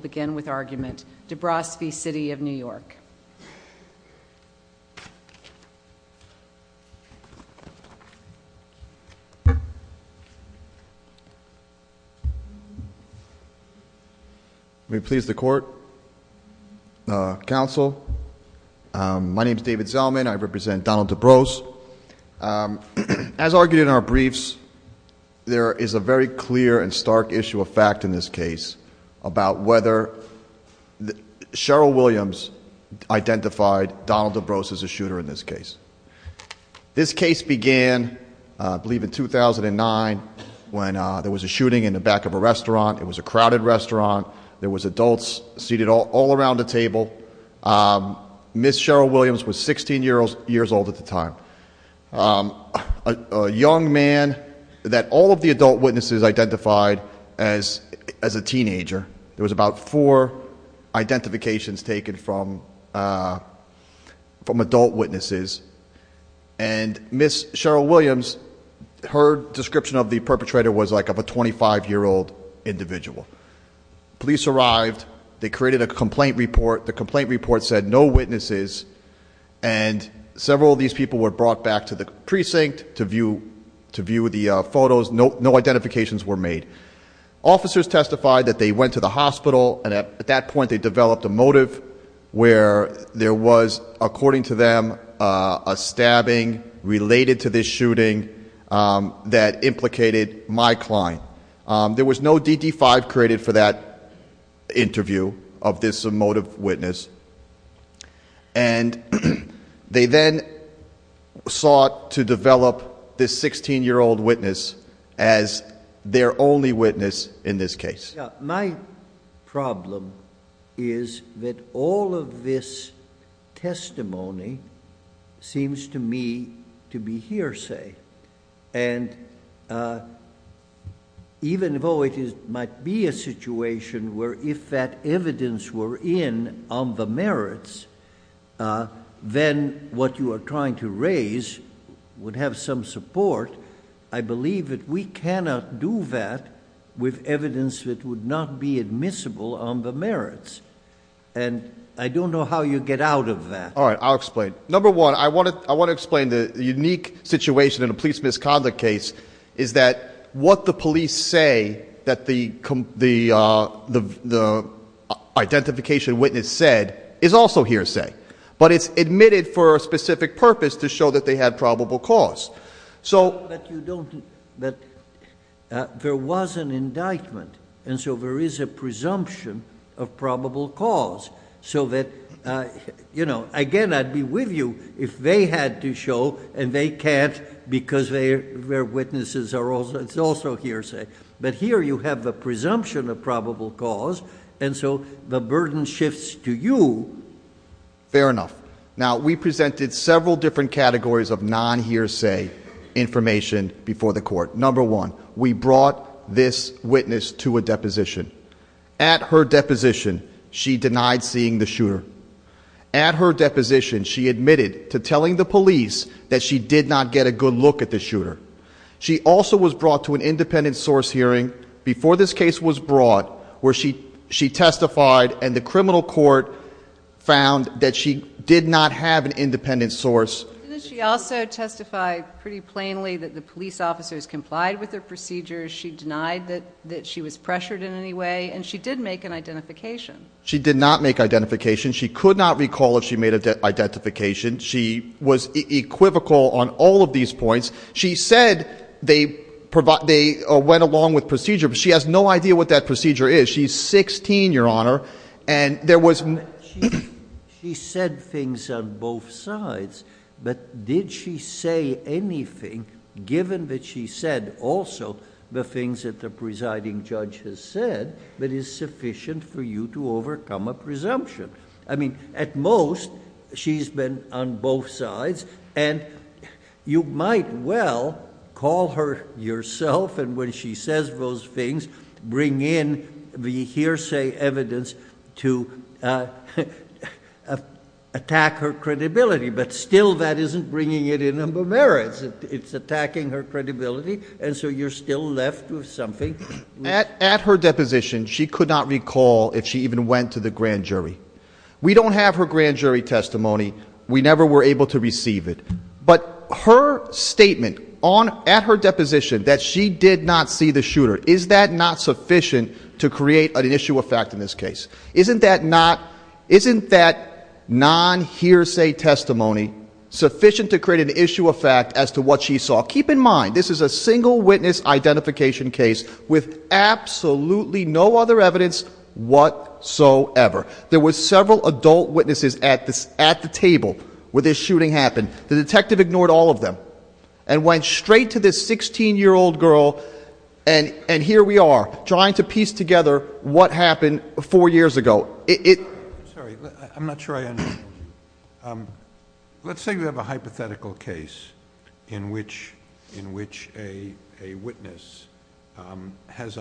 Debrosse v. City of New York. May it please the Court, Counsel, my name is David Zellman. I represent Donald Debrosse. As argued in our briefs, there is a very clear and stark issue of fact in this case about whether Cheryl Williams identified Donald Debrosse as a shooter in this case. This case began, I believe, in 2009 when there was a shooting in the back of a restaurant. It was a crowded restaurant. There was adults seated all around the table. Ms. Cheryl Williams was 16 years old at the time. A young man that all of the adult witnesses identified as a teenager. There was about four identifications taken from adult witnesses. And Ms. Cheryl Williams, her description of the perpetrator was like of a 25-year-old individual. Police arrived. They created a complaint report. The complaint report said no witnesses. And several of these people were brought back to the precinct to view the photos. No identifications were made. Officers testified that they went to the hospital. And at that point, they developed a motive where there was, according to them, a stabbing related to this shooting that implicated my client. There was no DD-5 created for that interview of this motive witness. And they then sought to develop this 16-year-old witness as the perpetrator of this shooting. Their only witness in this case. My problem is that all of this testimony seems to me to be hearsay. And even though it might be a situation where if that evidence were in on the merits, then what you are trying to raise would have some support, I believe that we cannot do that with evidence that would not be admissible on the merits. And I don't know how you get out of that. All right. I'll explain. Number one, I want to explain the unique situation in a police misconduct case is that what the police say that the identification witness said is also hearsay. But it's admitted for a specific purpose to show that they had probable cause. There was an indictment. And so there is a presumption of probable cause. Again, I'd be with you if they had to show and they can't because their witnesses are also hearsay. But here you have the presumption of probable cause. And so the burden shifts to you. Fair enough. Now, we presented several different categories of non-hearsay information before the court. Number one, we brought this witness to a deposition. At her deposition, she denied seeing the shooter. At her deposition, she admitted to telling the police that she did not get a good look at the shooter. She also was brought to an independent source hearing before this case was brought, where she testified and the criminal court found that she did not have an independent source. And then she also testified pretty plainly that the police officers complied with her procedures. She denied that she was pressured in any way. And she did make an identification. She did not make identification. She could not recall if she made identification. She was equivocal on all of these points. She said they went along with procedure, but she has no idea what that procedure is. She's 16, Your Honor. She said things on both sides, but did she say anything, given that she said also the things that the presiding judge has said, that is sufficient for you to overcome a presumption? I mean, at most, she's been on both sides. And you might well call her yourself, and when she says those things, bring in the hearsay evidence to attack her credibility. But still, that isn't bringing it in her merits. It's attacking her credibility. And so you're still left with something. At her deposition, she could not recall if she even went to the grand jury. We don't have her grand jury testimony. We never were able to receive it. But her statement at her deposition that she did not see the shooter, is that not sufficient to create an issue of fact in this case? Isn't that non-hearsay testimony sufficient to create an issue of fact? With absolutely no other evidence whatsoever. There were several adult witnesses at the table where this shooting happened. The detective ignored all of them, and went straight to this 16-year-old girl, and here we are, trying to piece together what happened four years ago. Sorry, I'm not sure I understand. Let's say we have a hypothetical case in which a witness has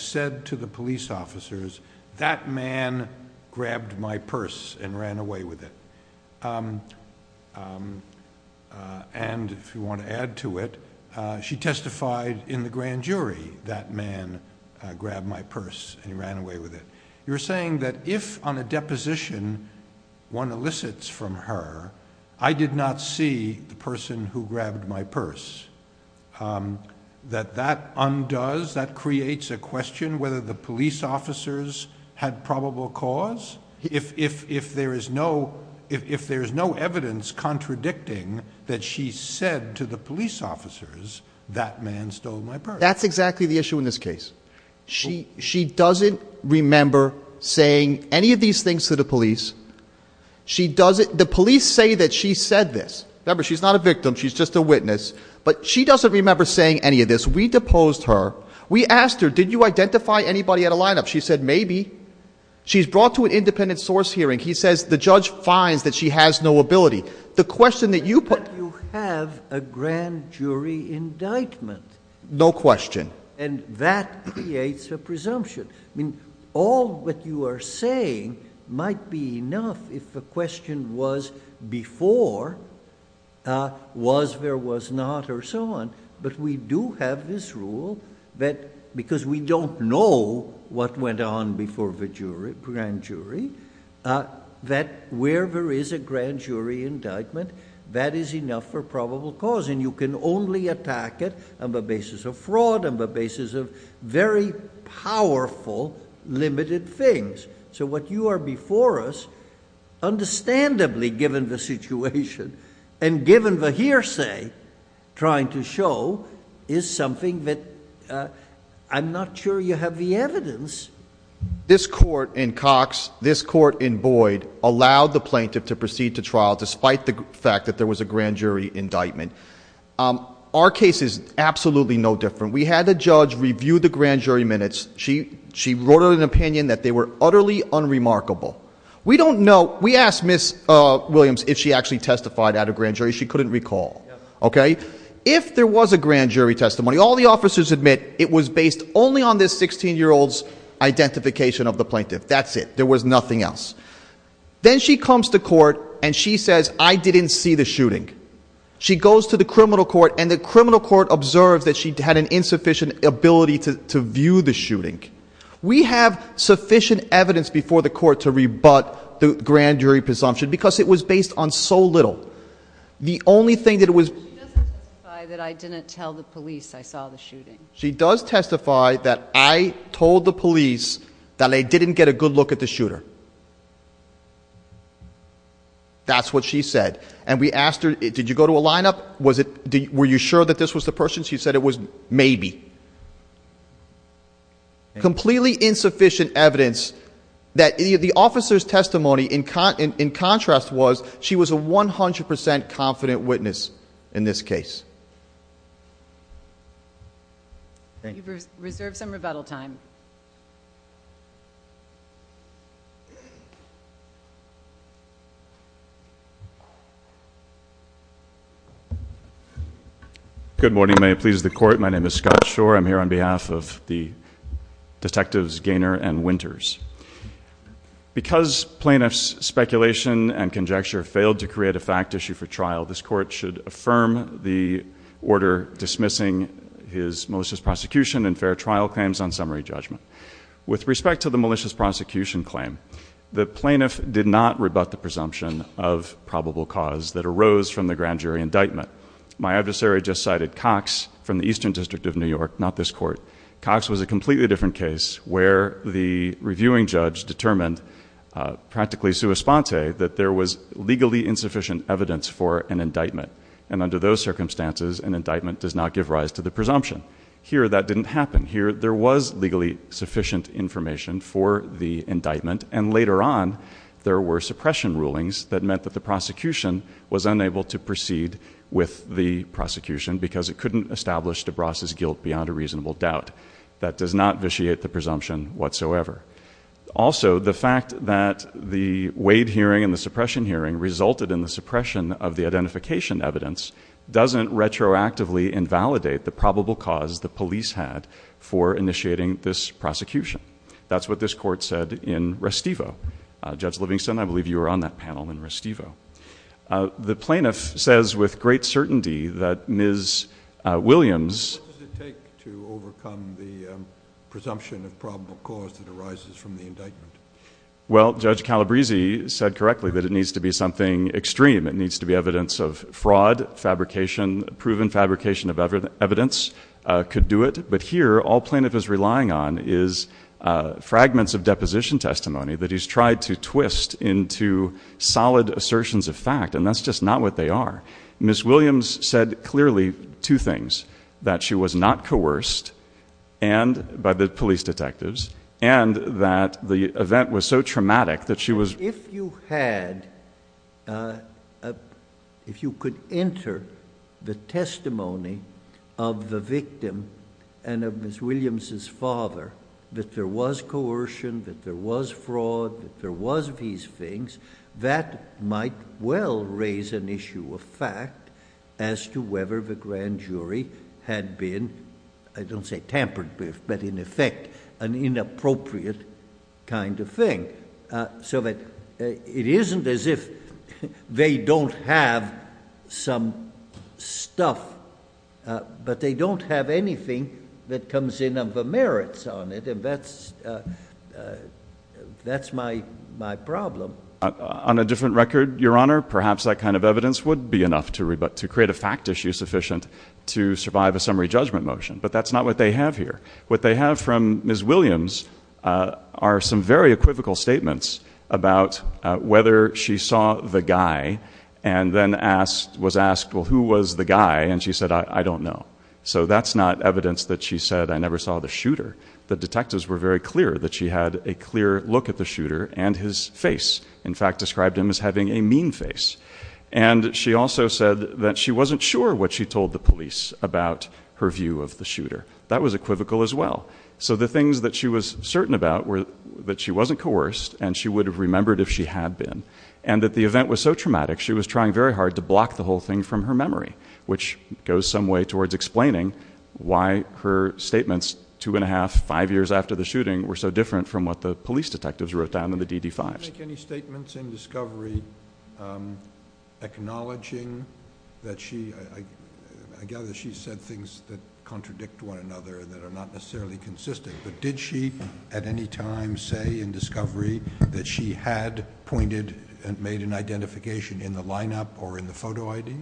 said to the police officers, that man grabbed my purse and ran away with it. And if you want to add to it, she testified in the grand jury, that man grabbed my purse and ran away with it. You're saying that if on a deposition, one elicits from her, I did not see the person who grabbed my purse, that that undoes, that creates a question whether the police officers had probable cause? If there is no evidence contradicting that she said to the police officers, that man stole my purse. That's exactly the issue in this case. She doesn't remember saying any of these things to the police. The police say that she said this. Remember, she's not a victim, she's just a witness. But she doesn't remember saying any of this. We deposed her. We asked her, did you identify anybody at a lineup? She said, maybe. She's brought to an independent source hearing. He says, the judge finds that she has no ability. The question that you put... But you have a grand jury indictment. No question. And that creates a presumption. All that you are saying might be enough if the question was before, was, there was not, or so on. But we do have this rule that because we don't know what went on before the grand jury, that where there is a grand jury indictment, that is enough for probable cause. And you can only attack it on the basis of fraud, on the basis of very powerful, limited things. So what you are before us, understandably, given the situation, and given the hearsay, trying to show, is something that I'm not sure you have the evidence. This court in Cox, this court in Boyd, allowed the plaintiff to proceed to trial despite the fact that there was a grand jury indictment. Our case is absolutely no different. We had a judge review the grand jury minutes. She wrote an opinion that they were utterly unremarkable. We don't know. We asked Ms. Williams if she actually testified at a grand jury. She couldn't recall. If there was a grand jury testimony, all the officers admit, it was based only on this 16-year-old's identification of the plaintiff. That's it. There was nothing else. Then she comes to court, and she says, I didn't see the shooting. She goes to the criminal court, and the criminal court observes that she had an insufficient ability to view the shooting. We have sufficient evidence before the court to rebut the grand jury presumption because it was based on so little. The only thing that it was... She doesn't testify that I didn't tell the police I saw the shooting. She does testify that I told the police that I didn't get a good look at the shooter. That's what she said. And we asked her, did you go to a lineup? Were you sure that this was the person? She said it was maybe. Completely insufficient evidence that the officer's testimony, in contrast, was she was a 100 percent confident witness in this case. You've reserved some rebuttal time. Good morning. May it please the court, my name is Scott Shore. I'm here on behalf of the detectives Gaynor and Winters. Because plaintiff's speculation and conjecture failed to create a fact issue for trial, this court should affirm the order dismissing his most recent malicious prosecution and fair trial claims on summary judgment. With respect to the malicious prosecution claim, the plaintiff did not rebut the presumption of probable cause that arose from the grand jury indictment. My adversary just cited Cox from the Eastern District of New York, not this court. Cox was a completely different case where the reviewing judge determined practically sua sponte that there was legally insufficient evidence for an indictment. And under those circumstances, an indictment does not give rise to the presumption. Here, that didn't happen. Here, there was legally sufficient information for the indictment, and later on, there were suppression rulings that meant that the prosecution was unable to proceed with the prosecution because it couldn't establish DeBras' guilt beyond a reasonable doubt. That does not vitiate the presumption whatsoever. Also, the fact that the Wade hearing and the suppression hearing resulted in the suppression of the identification evidence doesn't retroactively invalidate the probable cause the police had for initiating this prosecution. That's what this court said in Restivo. Judge Livingston, I believe you were on that panel in Restivo. The plaintiff says with great certainty that Ms. Williams... What does it take to overcome the presumption of probable cause that arises from the indictment? Well, Judge Calabrese said correctly that it needs to be something extreme. It needs to be evidence of fraud, fabrication, proven fabrication of evidence could do it. But here, all plaintiff is relying on is fragments of deposition testimony that he's tried to twist into solid assertions of fact, and that's just not what they are. Ms. Williams said clearly two things, that she was not coerced by the police detectives, and that the events were so traumatic that she was... If you had... If you could enter the testimony of the victim and of Ms. Williams' father that there was coercion, that there was fraud, that there was these things, that might well raise an issue of fact as to whether the grand jury had been, I don't say tampered with, but in effect, an inappropriate kind of thing. So that it isn't as if they don't have some stuff, but they don't have anything that comes in of the merits on it, and that's my problem. On a different record, Your Honor, perhaps that kind of evidence would be enough to create a fact issue sufficient to survive a summary judgment motion, but that's not what they have here. What they have from Ms. Williams are some very equivocal statements about whether she saw the guy and then was asked, well, who was the guy? And she said, I don't know. So that's not evidence that she said, I never saw the shooter. The detectives were very clear that she had a clear look at the shooter and his face, in fact, described him as having a mean face. And she also said that she wasn't sure what she told the police about her view of the shooter. That was equivocal as well. So the things that she was certain about were that she wasn't coerced and she would have remembered if she had been, and that the event was so traumatic, she was trying very hard to block the whole thing from her memory, which goes some way towards explaining why her statements two and a half, five years after the shooting were so different from what the police detectives wrote down in the DD-5s. Did she make any statements in discovery acknowledging that she, I gather she said things that contradict one another that are not necessarily consistent, but did she at any time say in discovery that she had pointed and made an identification in the lineup or in the photo ID?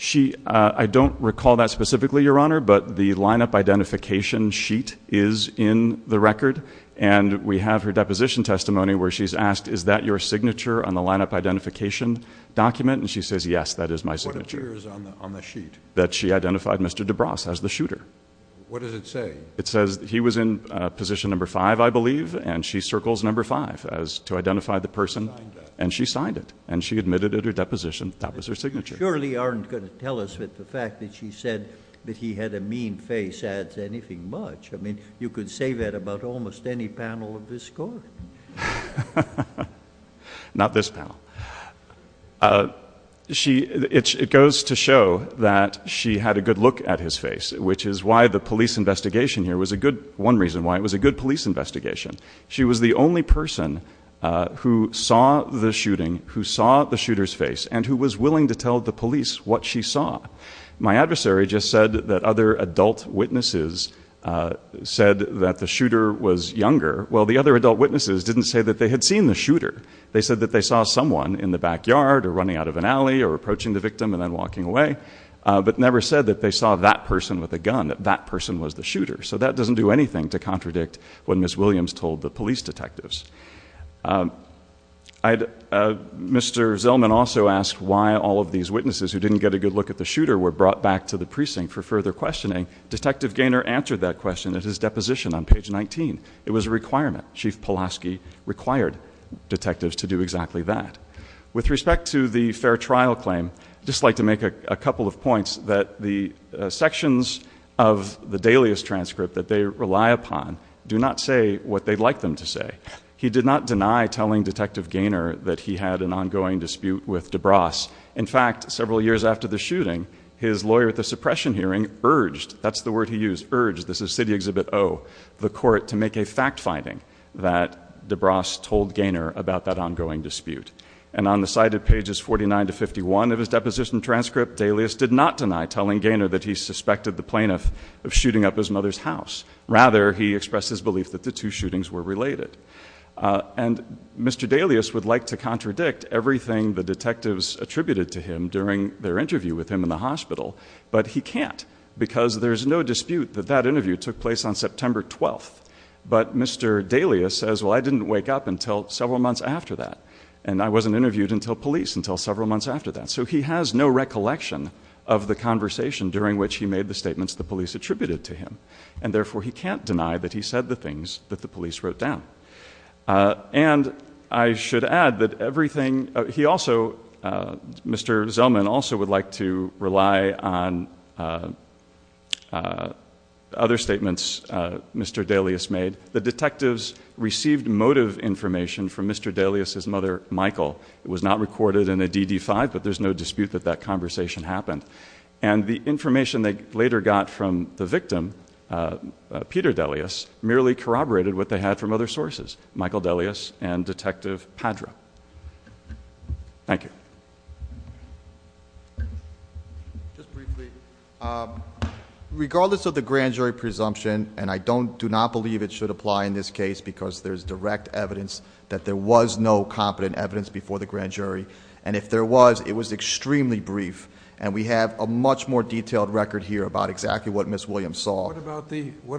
She, I don't recall that specifically, Your Honor, but the lineup identification sheet is in the record. And we have her deposition testimony where she's asked, is that your signature on the lineup identification document? And she says, yes, that is my signature. What appears on the sheet? That she identified Mr. DeBras as the shooter. What does it say? It says he was in position number five, I believe, and she circles number five as to identify the person. And she signed it. And she admitted at her deposition that was her signature. You surely aren't going to tell us that the fact that she said that he had a mean face adds anything much. I mean, you could say that about almost any panel of this Court. Not this panel. It goes to show that she had a good look at his face, which is why the police investigation here was a good, one reason why, it was a good police investigation. She was the only person who saw the shooting, who saw the shooter's face, and who was willing to tell the police what she saw. My adversary just said that other adult witnesses said that the shooter was younger. Well, the other adult witnesses didn't say that they had seen the shooter. They said that they saw someone in the backyard or running out of an alley or approaching the victim and then walking away, but never said that they saw that person with a gun, that that person was the shooter. So that doesn't do anything to contradict what Ms. Williams told the police detectives. Mr. Zellman also asked why all of these witnesses who didn't get a good look at the shooter were brought back to the precinct for further questioning. Detective Gaynor answered that it was a requirement. Chief Pulaski required detectives to do exactly that. With respect to the fair trial claim, I'd just like to make a couple of points that the sections of the dailies transcript that they rely upon do not say what they'd like them to say. He did not deny telling Detective Gaynor that he had an ongoing dispute with DeBras. In fact, several years after the shooting, his lawyer at the suppression hearing urged, that's the word he used, urged, this is City Exhibit O, the court to make a fact finding that DeBras told Gaynor about that ongoing dispute. And on the side of pages 49 to 51 of his deposition transcript, Dailius did not deny telling Gaynor that he suspected the plaintiff of shooting up his mother's house. Rather, he expressed his belief that the two shootings were related. And Mr. Dailius would like to contradict everything the detectives attributed to him during their interview. There's no dispute that that interview took place on September 12th. But Mr. Dailius says, well, I didn't wake up until several months after that. And I wasn't interviewed until police, until several months after that. So he has no recollection of the conversation during which he made the statements the police attributed to him. And therefore, he can't deny that he said the things that the police wrote down. And I should add that everything, he also, Mr. Zellman also would like to rely on other statements Mr. Dailius made. The detectives received motive information from Mr. Dailius's mother, Michael. It was not recorded in a DD-5, but there's no dispute that that conversation happened. And the information they later got from the victim, Peter Dailius, merely corroborated what they had from other sources, Michael Dailius and Detective Padra. Thank you. Just briefly, regardless of the grand jury presumption, and I do not believe it should apply in this case because there's direct evidence that there was no competent evidence before the grand jury. And if there was, it was extremely brief. And we have a much more detailed record here about exactly what Ms. Williams saw. What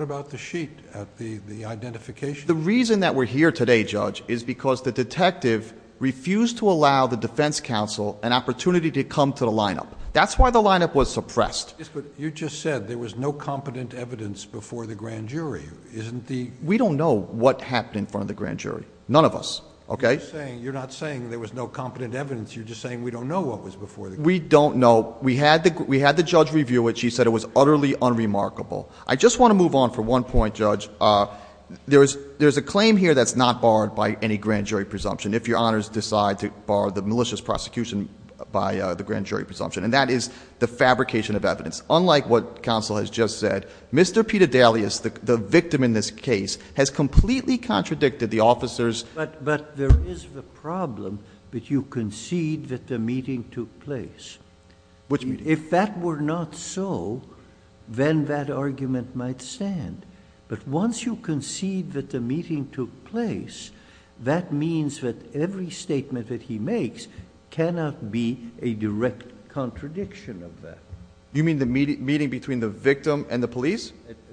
about the sheet at the identification? The reason that we're here today, Judge, is because the detective refused to allow the defense counsel an opportunity to come to the lineup. That's why the lineup was suppressed. You just said there was no competent evidence before the grand jury. Isn't the... We don't know what happened in front of the grand jury. None of us. Okay? You're not saying there was no competent evidence. You're just saying we don't know what was before the grand jury. We don't know. We had the judge review it. She said it was utterly unremarkable. I just want to move on for one point, Judge. There's a claim here that's not barred by any grand jury presumption, if your honors decide to bar the malicious prosecution by the grand jury presumption, and that is the fabrication of evidence. Unlike what counsel has just said, Mr. Peter Dailius, the victim in this case, has completely contradicted the officer's... Which meeting? If that were not so, then that argument might stand. But once you concede that the meeting took place, that means that every statement that he makes cannot be a direct contradiction of that. You mean the meeting between the victim and the police?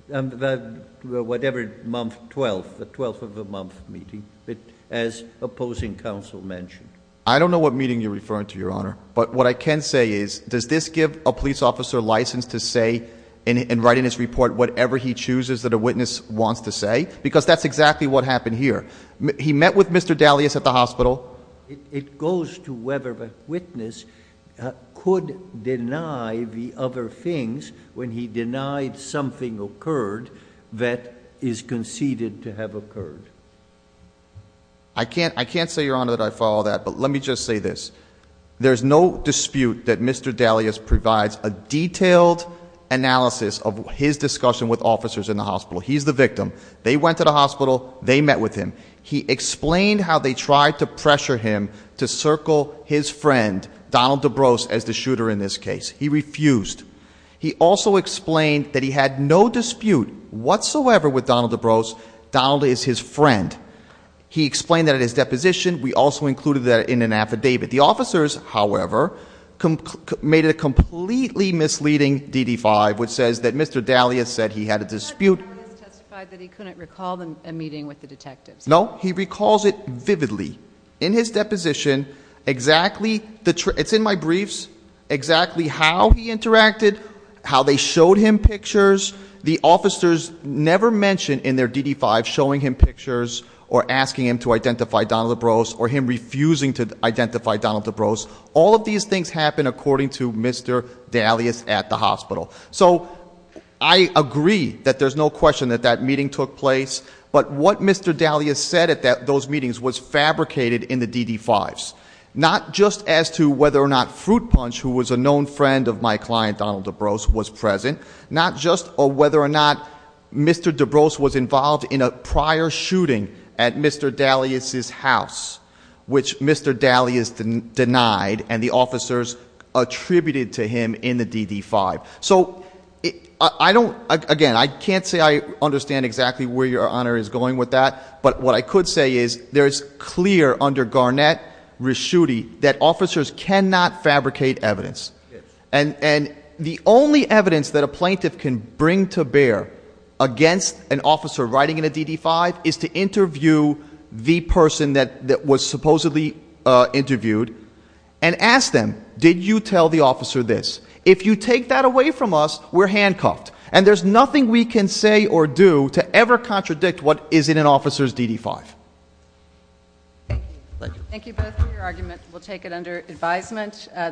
Whatever month, 12th, the 12th of the month meeting, as opposing counsel mentioned. I don't know what meeting you're referring to, your honor. But what I can say is, does this give a police officer license to say and write in his report whatever he chooses that a witness wants to say? Because that's exactly what happened here. He met with Mr. Dailius at the hospital. It goes to whether a witness could deny the other things when he denied something occurred that is conceded to have occurred. I can't say, your honor, that I follow that, but let me just say this. There's no dispute that Mr. Dailius provides a detailed analysis of his discussion with officers in the hospital. He's the victim. They went to the hospital. They met with him. He explained how they tried to pressure him to circle his friend, Donald DeBrose, as the shooter in this case. He refused. He also explained that he had no dispute whatsoever with Donald DeBrose. Donald is his friend. He explained that at his deposition. We also included that in an affidavit. The officers, however, made a completely misleading DD-5, which says that Mr. Dailius said he had a dispute. Mr. Dailius testified that he couldn't recall a meeting with the detectives. No. He recalls it vividly. In his deposition, exactly the, it's in my briefs, exactly how he interacted, how they showed him pictures. The officers never mention in their DD-5 showing him pictures or asking him to identify Donald DeBrose or him refusing to identify Donald DeBrose. All of these things happen according to Mr. Dailius at the hospital. So I agree that there's no question that that meeting took place, but what Mr. Dailius said at those meetings was fabricated in the DD-5s. Not just as to whether or not Fruit Punch, who was a known friend of my client Donald DeBrose, was present. Not just whether or not Mr. DeBrose was involved in a prior shooting at Mr. Dailius' house, which Mr. Dailius denied and the officers attributed to him in the DD-5. So I don't, again, I can't say I understand exactly where Your Honor is going with that, but what I could say is there is clear under Garnett-Raschuti that officers cannot fabricate evidence. And the only evidence that a plaintiff can bring to bear against an officer riding in a DD-5 is to interview the person that was supposedly interviewed and ask them, did you tell the officer this? If you take that away from us, we're handcuffed. And there's nothing we can say or do to ever contradict what is in an officer's DD-5. Thank you. Thank you both for your argument. We'll take it under advisement.